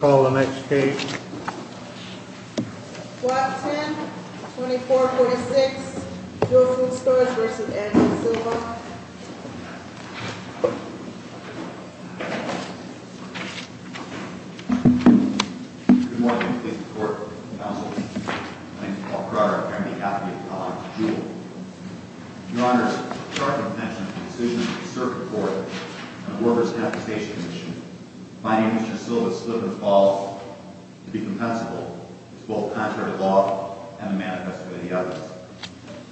Call the next case. Block 10, 2446 Jewel Food Stores v. Andrew Silva Good morning. Thank you for your support, counsel. My name is Paul Crowder, on behalf of the College of Jewel. Your Honor, it is a sharp intention to conclude a cert report on the Workers' Compensation Commission. Finding Mr. Silva's slip-and-falls to be compensable is both contrary to law and a manifesto of the evidence.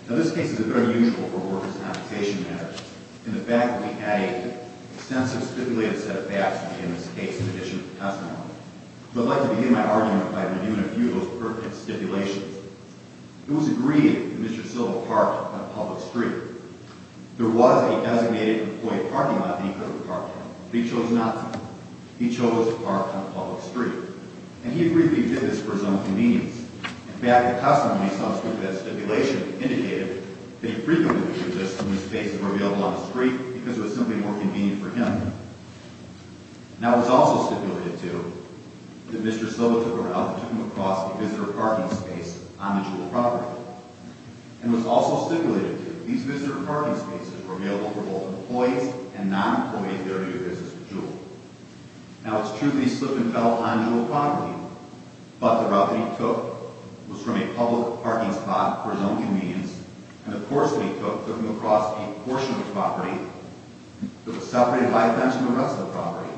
Now, this case is a bit unusual for Workers' Compensation matters, in the fact that we had an extensive stipulated set of facts in this case, in addition to testimony. So, I'd like to begin my argument by reviewing a few of those perfect stipulations. It was agreed that Mr. Silva parked on a public street. There was a designated employee parking lot that he could have parked at. But he chose not to. He chose to park on a public street. And he agreed that he did this for his own convenience. In fact, the testimony subscript of that stipulation indicated that he frequently did this when his spaces were available on the street, because it was simply more convenient for him. Now, it was also stipulated, too, that Mr. Silva took a route and took him across a visitor parking space on the Jewel property. And it was also stipulated, too, that these visitor parking spaces were available for both employees and non-employees there to do business with Jewel. Now, it's true that he slipped and fell onto a property. But the route that he took was from a public parking spot for his own convenience. And the course that he took took him across a portion of the property that was separated by a bench from the rest of the property.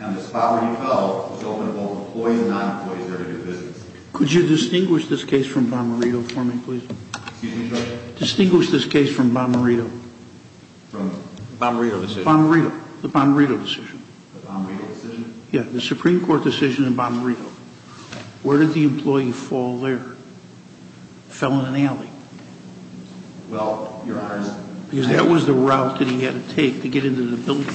And this property fell, which opened both employees and non-employees there to do business. Could you distinguish this case from Bomberito for me, please? Excuse me, Judge? Distinguish this case from Bomberito. From the Bomberito decision? Bomberito. The Bomberito decision. The Bomberito decision? Yeah, the Supreme Court decision in Bomberito. Where did the employee fall there? Fell in an alley. Well, Your Honor, I... Because that was the route that he had to take to get into the building.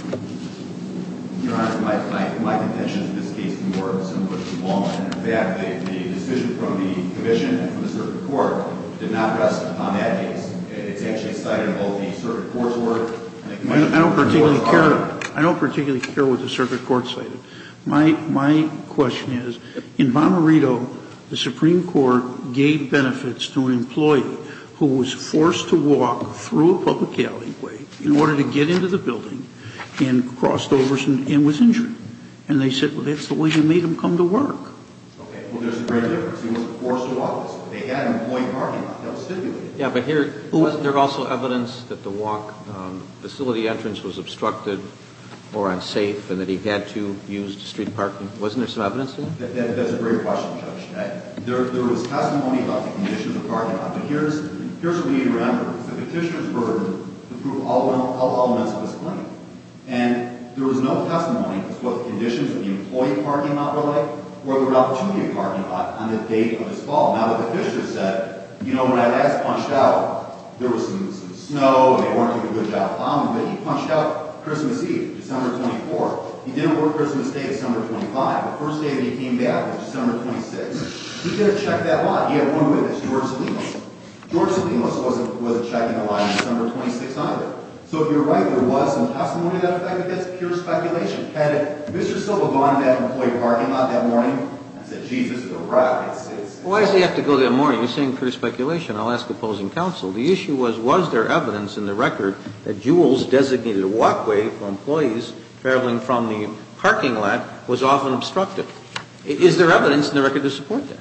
Your Honor, my contention in this case is more similar to Walden. In fact, the decision from the Commission and from the Circuit Court did not rest upon that case. It's actually cited both the Circuit Court's word... I don't particularly care what the Circuit Court cited. My question is, in Bomberito, the Supreme Court gave benefits to an employee who was forced to walk through a public alleyway in order to get into the building and crossed over and was injured. And they said, well, that's the way you made him come to work. Okay, well, there's a great difference. He was forced to walk this way. They had an employee parking lot. That was stipulated. Yeah, but here, wasn't there also evidence that the walk facility entrance was obstructed or unsafe and that he had to use the street parking? Wasn't there some evidence of that? That's a great question, Judge. There was testimony about the conditions of the parking lot. But here's what you need to remember. It's the Petitioner's burden to prove all elements of his claim. And there was no testimony as to what the conditions of the employee parking lot were like or the opportunity of the parking lot on the date of his fall. Now, the Petitioner said, you know, when I last punched out, there was some snow and they weren't doing a good job of bombing. But he punched out Christmas Eve, December 24. He didn't work Christmas Day, December 25. The first day that he came back was December 26. He didn't check that lot. He had one witness, George Slimas. George Slimas wasn't checking the lot on December 26 either. So if you're right, there was some testimony to that effect. But that's pure speculation. Had Mr. Silva gone to that employee parking lot that morning and said, geez, this is a riot? Well, why does he have to go that morning? You're saying pure speculation. I'll ask opposing counsel. The issue was, was there evidence in the record that Jules designated a walkway for employees traveling from the parking lot was often obstructed? Is there evidence in the record to support that?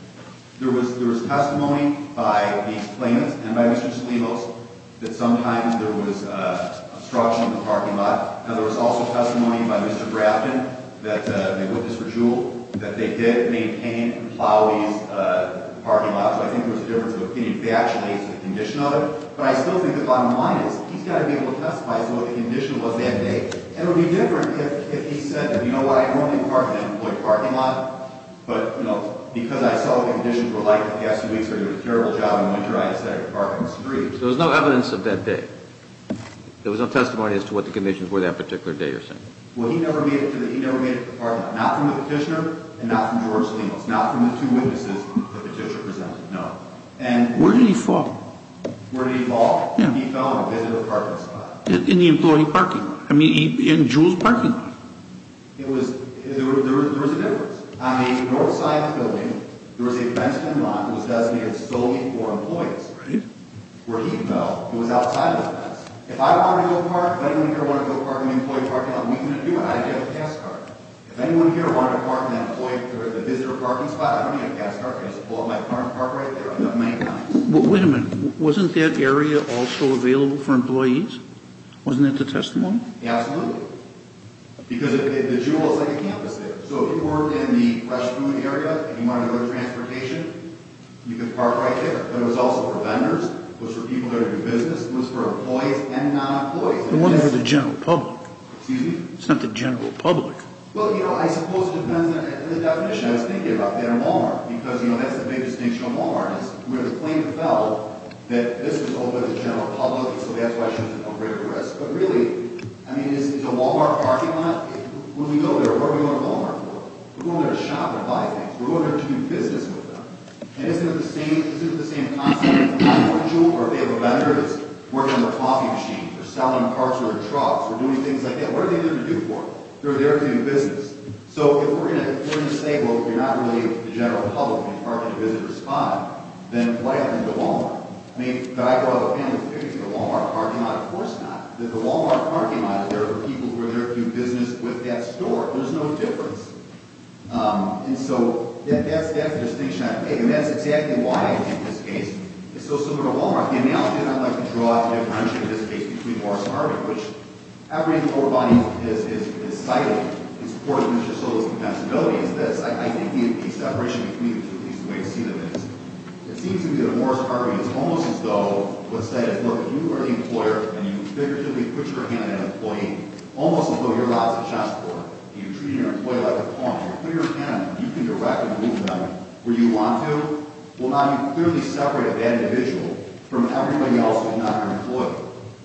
There was testimony by the plaintiffs and by Mr. Slimas that sometimes there was obstruction in the parking lot. Now, there was also testimony by Mr. Grafton, the witness for Jules, that they did maintain in the parking lot. So I think there was a difference of opinion. If they actually made the condition of it. But I still think the bottom line is, he's got to be able to testify to what the condition was that day. It would be different if he said, you know what? I normally park in an employee parking lot, but because I saw the conditions were like the last few weeks, they were doing a terrible job in winter, I decided to park on the street. So there was no evidence of that day? There was no testimony as to what the conditions were that particular day, you're saying? Well, he never made it to the parking lot. Not from the petitioner and not from George Slimas. Not from the two witnesses the petitioner presented, no. Where did he fall? Where did he fall? He fell in a visitor parking spot. In the employee parking lot. I mean, in Jules' parking lot. It was, there was a difference. On the north side of the building, there was a bench in the lot that was designated solely for employees. Right. Where he fell, it was outside of that bench. If I wanted to go park, if anyone here wanted to go park in an employee parking lot, we can do it. I'd get a pass card. If anyone here wanted to park in an employee, a visitor parking spot, I don't need a pass card. I just pull up my car and park right there. I've done it many times. Wait a minute. Wasn't that area also available for employees? Wasn't that the testimony? Absolutely. Because the Jules is like a campus there. So if you were in the fresh food area and you wanted to go to transportation, you could park right there. But it was also for vendors. It was for people that are doing business. It was for employees and non-employees. It wasn't for the general public. Excuse me? It's not the general public. Well, you know, I suppose it depends on the definition. I was thinking about that in Walmart. Because, you know, that's the big distinction on Walmart. We have a claim to file that this was only for the general public, so that's why it shows a greater risk. But really, I mean, is a Walmart parking lot? When we go there, where are we going to Walmart for? We're going there to shop and buy things. We're going there to do business with them. And isn't it the same concept for Jules? Or if they have a vendor that's working on their coffee machine or selling parts for their trucks or doing things like that, what are they there to do for? They're there to do business. So if we're going to say, well, if you're not really the general public and you're parking at a visitor's spot, then why are you going to Walmart? I mean, but I draw the family's opinion. The Walmart parking lot? Of course not. The Walmart parking lot is there for people who are there to do business with that store. There's no difference. And so that's the distinction I make. And that's exactly why, in this case, it's so similar to Walmart. The analogy that I'd like to draw to differentiate this case between Morris-Harvick, which every lower body is cited in support of Mr. Soto's confessibility, is this. I think the separation between the two, at least the way I've seen it, is it seems to me that Morris-Harvick is almost as though what's said is, look, if you are the employer and you figuratively put your hand on an employee, almost as though you're allowed to trust her and you're treating your employee like a pawn, you can direct and move them where you want to. Well, now you've clearly separated that individual from everybody else who's not an employer.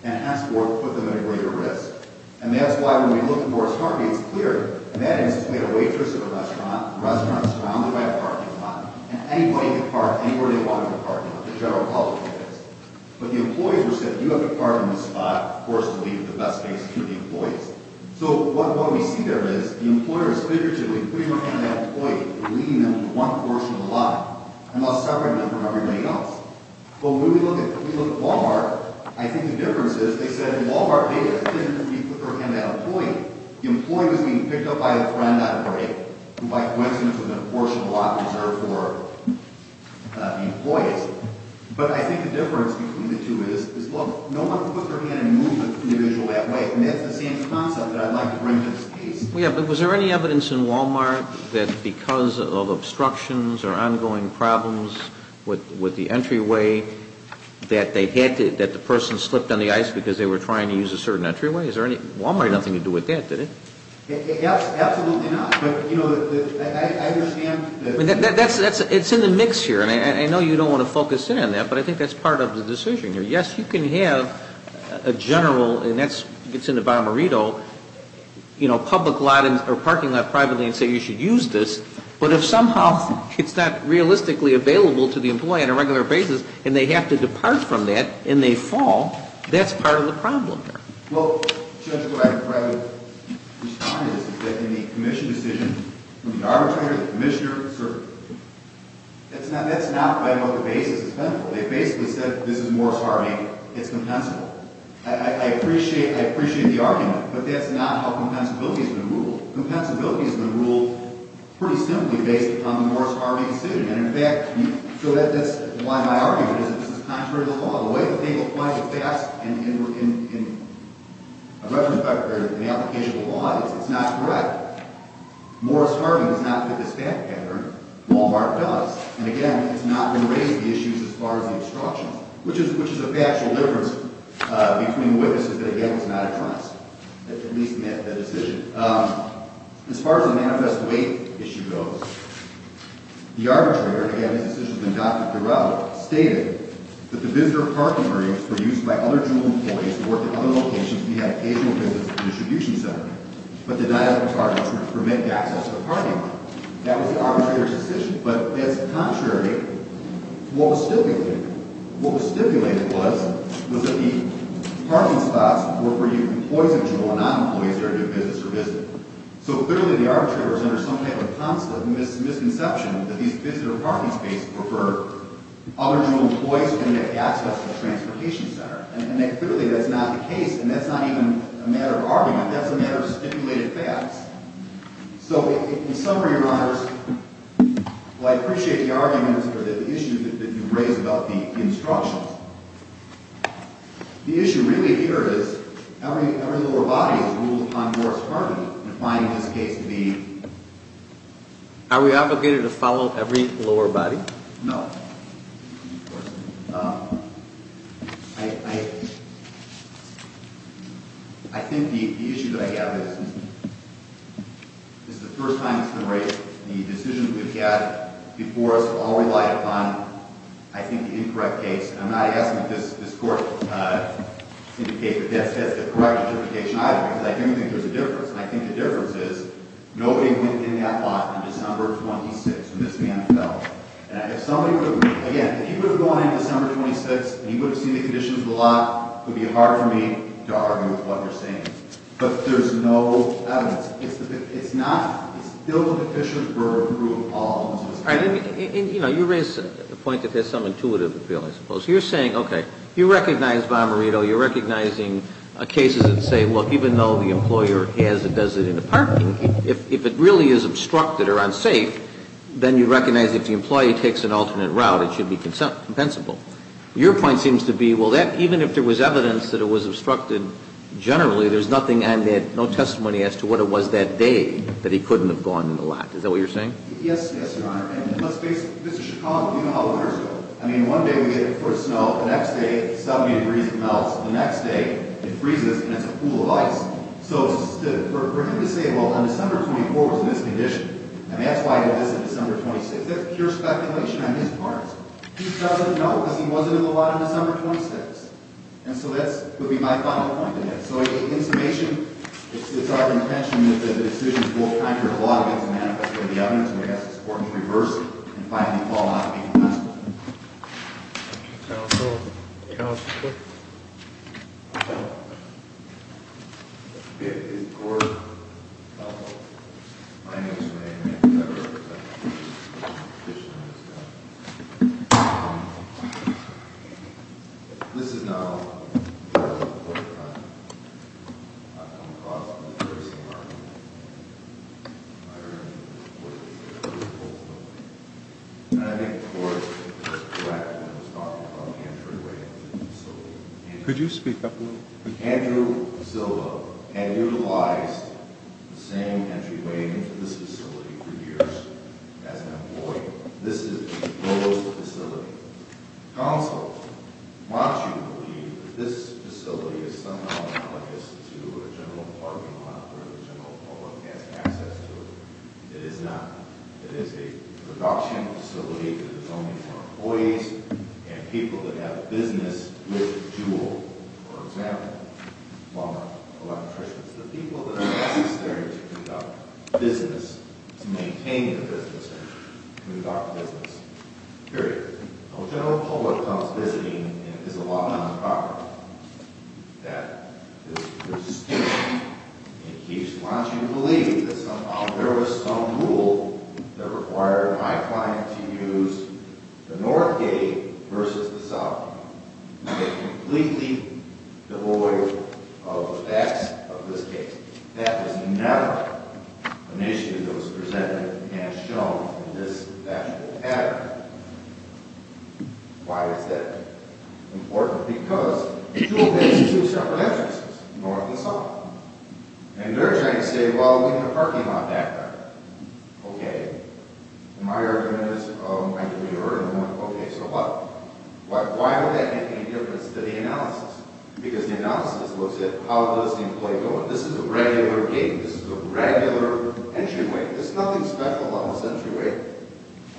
And henceforth, put them at greater risk. And that's why when we look at Morris-Harvick, it's clear. In that instance, we had a waitress at a restaurant. The restaurant is surrounded by a parking lot. And anybody can park anywhere they want to park, not the general public. But the employees were said, you have to park in this spot for us to leave the best space for the employees. So what we see there is the employer is figuratively putting her hand on that employee and leaving them with one portion of the lot and thus separating them from everybody else. But when we look at Wal-Mart, I think the difference is they said in Wal-Mart, they didn't put their hand on that employee. The employee was being picked up by a friend on a break who, by coincidence, was a portion of the lot reserved for the employees. But I think the difference between the two is, look, no one puts their hand and moves the individual that way. And that's the same concept that I'd like to bring to this case. Yeah, but was there any evidence in Wal-Mart that because of obstructions or ongoing problems with the entryway, that the person slipped on the ice because they were trying to use a certain entryway? Wal-Mart had nothing to do with that, did it? Absolutely not. I understand that... It's in the mix here. And I know you don't want to focus in on that, but I think that's part of the decision here. Yes, you can have a general, and that's in the Barmerito, you know, public lot or parking lot privately and say you should use this. But if somehow it's not realistically available to the employee on a regular basis, and they have to depart from that, and they fall, that's part of the problem there. Well, Judge, what I would try to respond to this is that in the commission decision, the arbitrator, the commissioner, that's not by what the basis is plentiful. They basically said, this is Morris-Harvey, it's compensable. I appreciate the argument, but that's not how compensability has been ruled. Compensability has been ruled pretty simply based upon the Morris-Harvey decision. And, in fact, so that's why my argument is that this is contrary to the law. The way that they apply the facts and the application of the law is it's not correct. Morris-Harvey does not fit this fact pattern. Wal-Mart does. And, again, it's not going to raise the issues as far as the obstruction, which is a factual difference between witnesses that, again, it's not a trust. At least that decision. As far as the manifest weight issue goes, the arbitrator, and, again, this decision has been docketed throughout, stated that the visitor parking areas were used by other jewel employees who worked at other locations and had occasional visits to the distribution center, but denied them parking to prevent access to the parking lot. That was the arbitrator's decision. But that's contrary to what was stipulated. What was stipulated was that the parking spots were for employees of jewel and not employees there to do visits or visit. So, clearly, the arbitrator was under some kind of constant misconception that these visitor parking spaces were for other jewel employees who didn't have access to the transportation center. And, clearly, that's not the case, and that's not even a matter of argument. That's a matter of stipulated facts. So, in summary and honors, well, I appreciate the arguments for the issue that you raised about the obstructions. The issue really here is every lower body has ruled on your department, and I find this case to be... Are we obligated to follow every lower body? No. Of course not. I... I think the issue that I have is this is the first time that's been raised. The decisions we've had before us have all relied upon, I think, the incorrect case. And I'm not asking that this court indicate that that's the correct justification either, because I don't think there's a difference. And I think the difference is nobody went in that lot on December 26 when this van fell. And if somebody would have... Again, if you would have gone in December 26, and you would have seen the conditions of the lot, it would be hard for me to argue with what you're saying. But there's no evidence. It's the... It's not... It's still deficient for approval of all... All right, let me... And, you know, you raise a point that has some intuitive appeal, I suppose. You're saying, okay, you recognize Bomberito. You're recognizing cases that say, look, even though the employer has or does it in the parking, if it really is obstructed or unsafe, then you recognize if the employee takes an alternate route, it should be compensable. Your point seems to be, well, even if there was evidence that it was obstructed, generally, there's nothing on that, no testimony as to what it was that day that he couldn't have gone in the lot. Is that what you're saying? Yes, yes, Your Honor. And let's face it. This is Chicago. You know how the winters go. I mean, one day we hit it with snow. The next day, 70 degrees melts. The next day, it freezes, and it's a pool of ice. So for him to say, well, on December 24th, it was in this condition, and that's why he did this on December 26th, that's pure speculation on his part. He doesn't know because he wasn't in the lot on December 26th. And so that would be my final point on that. So in summation, it's our intention that the decisions both counter the law against the manifesto and the evidence, and we ask this Court to reverse it and finally fall out of being compensable. Thank you, counsel. Counsel? Yes, Your Honor. My name is Raymond. I represent the petitioner's family. This is not a lot of court time. I've come across it in the first time. And I think the Court was correct when it was talking about the intraday facility. Could you speak up a little bit? Andrew Silva had utilized the same entryway into this facility for years as an employee. This is the oldest facility. Counsel, why do you believe that this facility is somehow analogous to a general parking lot where the general public has access to it? It is not. It is a production facility that is only for employees and people that have a business with Jewell, for example, Walmart electricians, the people that are necessary to conduct business, to maintain the business center, to conduct business, period. So a general public comes visiting and it is a lot of non-profit. That is the distinction. And he wants you to believe that somehow there was some rule that required my client to use the north gate versus the south gate. Completely devoid of the facts of this case. That was never an issue that was presented and shown in this actual pattern. Why is that important? Because Jewell has two separate entrances, north and south. And they're trying to say, well, we have a parking lot back there. Okay. And my argument is, okay, so what? Why would that make any difference to the analysis? Because the analysis looks at how does the employee go in. This is a regular gate. This is a regular entryway. There's nothing special about this entryway.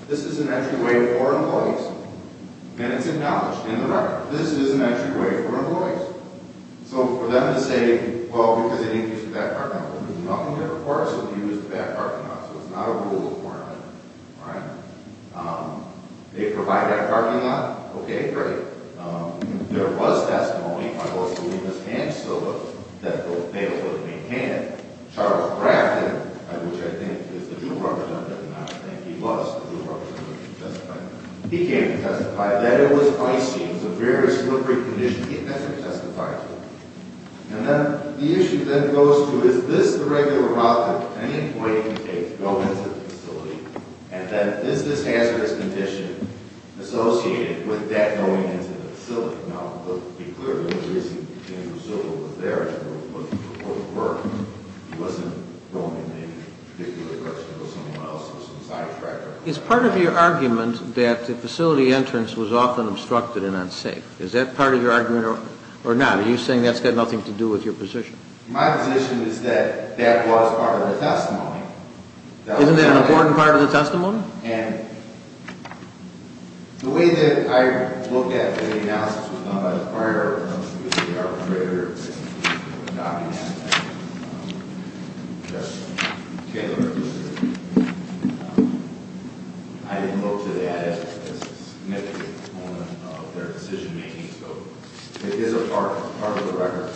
This is an entryway for employees and it's acknowledged in the record. This is an entryway for employees. So for them to say, well, because they didn't use the back parking lot, there's nothing that requires them to use the back parking lot. So it's not a rule requirement. All right? They provide that parking lot. Okay, great. There was testimony by those who were in this case, so that they'll be able to maintain it. Charles Grafton, which I think is the Jewell representative, and I think he was the Jewell representative who testified, he came to testify that it was icy. It was a very slippery condition. He hasn't testified to it. And then the issue then goes to is this the regular route that any employee can take to go into the facility? And then is this hazardous condition associated with that going into the facility? Now, to be clear, the only reason that the facility was there was for work. He wasn't going in any particular direction. It was someone else or some sidetracker. Is part of your argument that the facility entrance was often obstructed and unsafe? Is that part of your argument or not? Are you saying that's got nothing to do with your position? My position is that that was part of the testimony. Isn't that an important part of the testimony? And the way that I looked at the analysis was done by the prior arbitrator, Dr. Jess Taylor. I didn't look to that as a significant component of their decision-making. So it is a part of the record.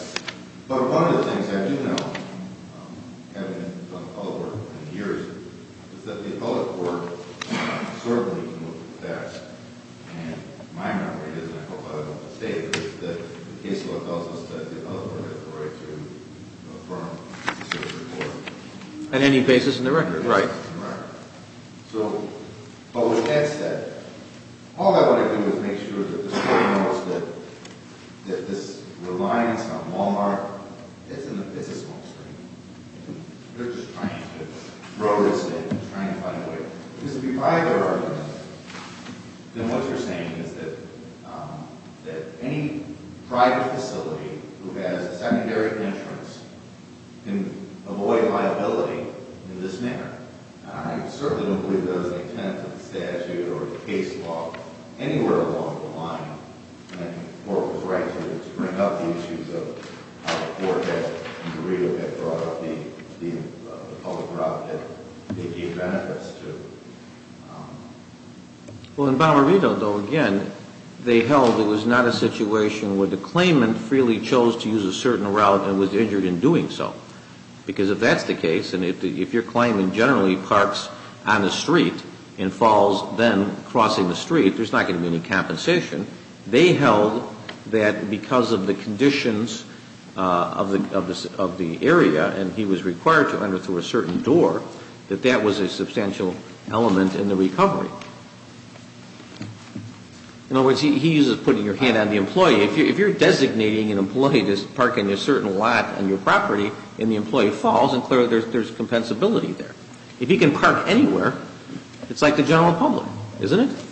But one of the things I do know, having done public work for many years, is that the appellate court certainly can look at that. And my memory is, and I hope I don't mistake it, is that the case law tells us that the appellate court has the right to affirm the decision of the court. On any basis in the record? On any basis in the record. Right. So, but with that said, all I want to do is make sure that the state knows that this reliance on Wal-Mart isn't a fiscal constraint. They're just trying to throw this in, trying to find a way. Because if you buy their argument, then what you're saying is that any private facility who has secondary insurance can avoid liability in this manner. I certainly don't believe there is an intent of the statute or the case law anywhere along the line. And I think the court was right to bring up the issues of how the court had in Burrito had brought up the public route that they gave benefits to. Well, in Balmerito, though, again, they held it was not a situation where the claimant freely chose to use a certain route and was injured in doing so. Because if that's the case, and if your claimant generally parks on the street and falls then crossing the street, there's not going to be any compensation. They held that because of the conditions of the area, and he was required to enter through a certain door, that that was a substantial element in the recovery. In other words, he uses putting your hand on the employee. If you're designating an employee to park in a certain lot on your property and the employee falls, then clearly there's compensability there. If he can park anywhere, it's like the general public, isn't it?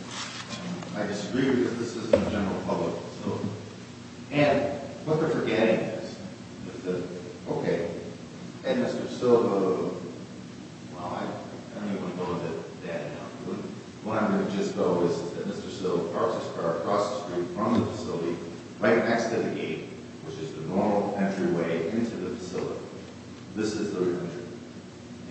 I disagree because this isn't a general public facility. And what they're forgetting is that, okay, at Mr. Silva, well, I don't even want to go into that now. What I'm going to just go is that Mr. Silva crossed the street from the facility right next to the gate, which is the normal entryway into the facility. This is the entryway.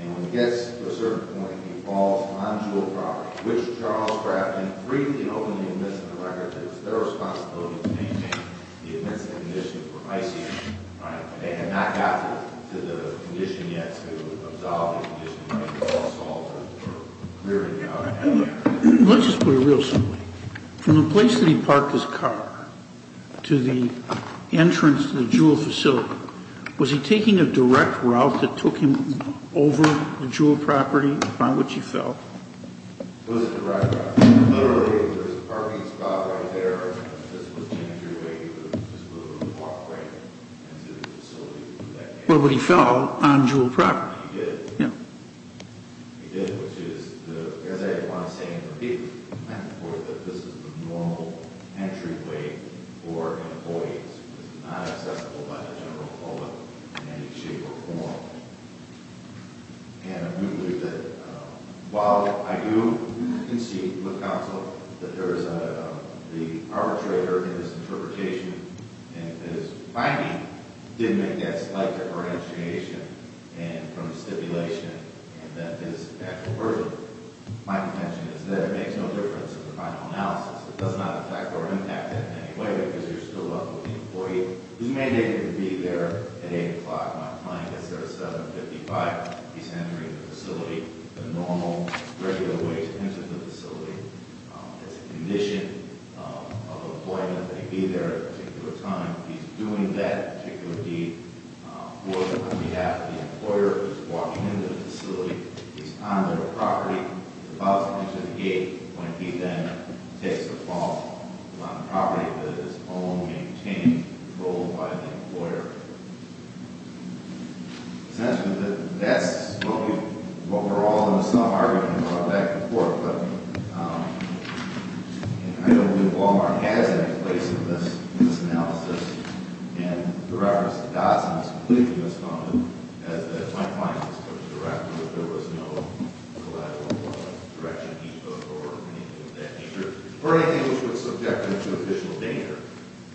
And when he gets to a certain point, he falls on Jewel property, which Charles Kraft then freely and openly admits to the record that it's their responsibility to maintain the admissible conditions for isolation. All right? They had not gotten to the condition yet to absolve the condition. It was all solved or cleared out. Let's just put it real simply. From the place that he parked his car to the entrance to the Jewel facility, was he taking a direct route that took him over the Jewel property on which he fell? It was a direct route. Literally, there was a parking spot right there. This was the entryway to the facility. Well, but he fell on Jewel property. He did. He did, which is, as I want to say repeatedly, that this is the normal entryway for employees. It's not accessible by the general public in any shape or form. And while I do concede with counsel that there is the arbitrator in this interpretation and his finding did make that slight differentiation from the stipulation and that this actual person, my contention is that it makes no difference in the final analysis. It does not affect or impact it in any way because you're still up with the employee who's mandated to be there at 8 o'clock. My client gets there at 7.55. He's entering the facility the normal, regular way into the facility. It's a condition of employment that he be there at a particular time. He's doing that particular deed on behalf of the employer who's walking into the facility. He's on the property, about to enter the gate when he then takes a fall on the property that is owned, maintained, controlled by the employer. Essentially, that's what we're all in some argument about back and forth. But I don't think Walmart has any place in this analysis. And the reference to DASA is completely misfunded. As my client has put it directly, there was no collateral for the direction he took or anything of that nature or anything which was subjected to official danger.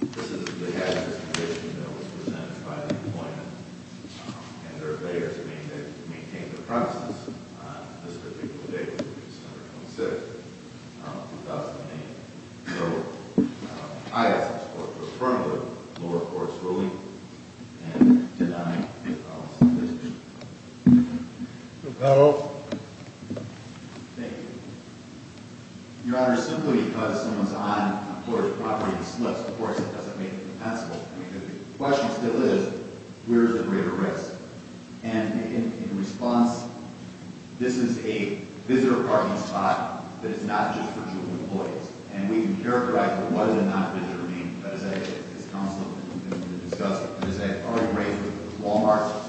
This is the hazardous condition that was presented by the employer. And their failure to maintain the premises on this particular date which is September 26th, 2008. So I ask this court to affirm the lower court's ruling and deny any policy in this case. The panel. Thank you. Your Honor, simply because someone's on an employer's property and slips, of course, it doesn't make it compensable. I mean, the question still is, where is the greater risk? And in response, this is a visitor parking spot that is not just for dual employees. And we can characterize what does a non-visitor mean. That is, as counsel has been discussing, Walmart,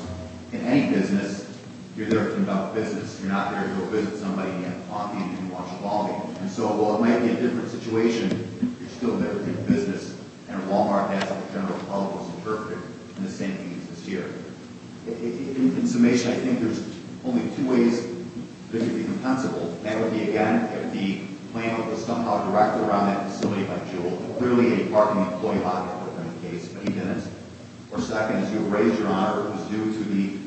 in any business, you're there to conduct business. You're not there to go visit somebody on the evening you watch the ball game. And so while it might be a different situation, you're still there to do business. And Walmart, as the general public has interpreted, in the same case this year. In summation, I think there's only two ways this could be compensable. That would be, again, if the claimant was somehow directed around that facility by Juul, clearly a parking employee on that particular case, but he didn't. Or second, as you have raised, Your Honor, it was due to the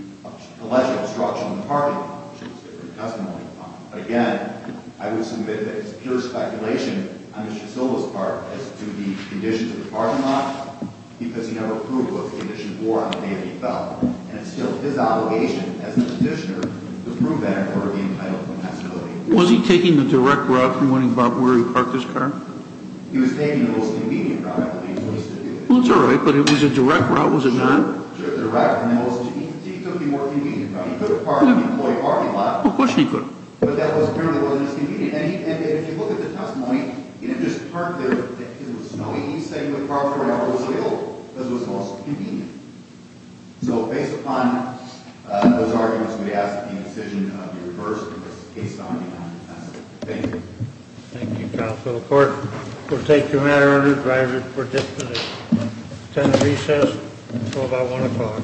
alleged obstruction of the parking lot, which is a different testimony. Again, I would submit that it's pure speculation on Mr. Silva's part as to the conditions of the parking lot, because he never proved what the conditions were on the day that he fell. And it's still his obligation as the petitioner to prove that in order to be entitled to compensability. Was he taking the direct route to finding out where he parked his car? He was taking the most convenient route, I believe. Well, that's all right, but it was a direct route, was it not? Sure, direct. He took the more convenient route. He could have parked in the employee parking lot. Well, of course he could have. But that was clearly not as convenient. And if you look at the testimony, he didn't just park there. It was snowy. He stayed in the car for an hour. It was legal, because it was the most convenient. So based upon those arguments, we ask that the incision be reversed in this case, Your Honor. Thank you. Thank you, Counsel to the Court. We'll take your matter under advisory for dispute. Attend the recess until about 1 o'clock.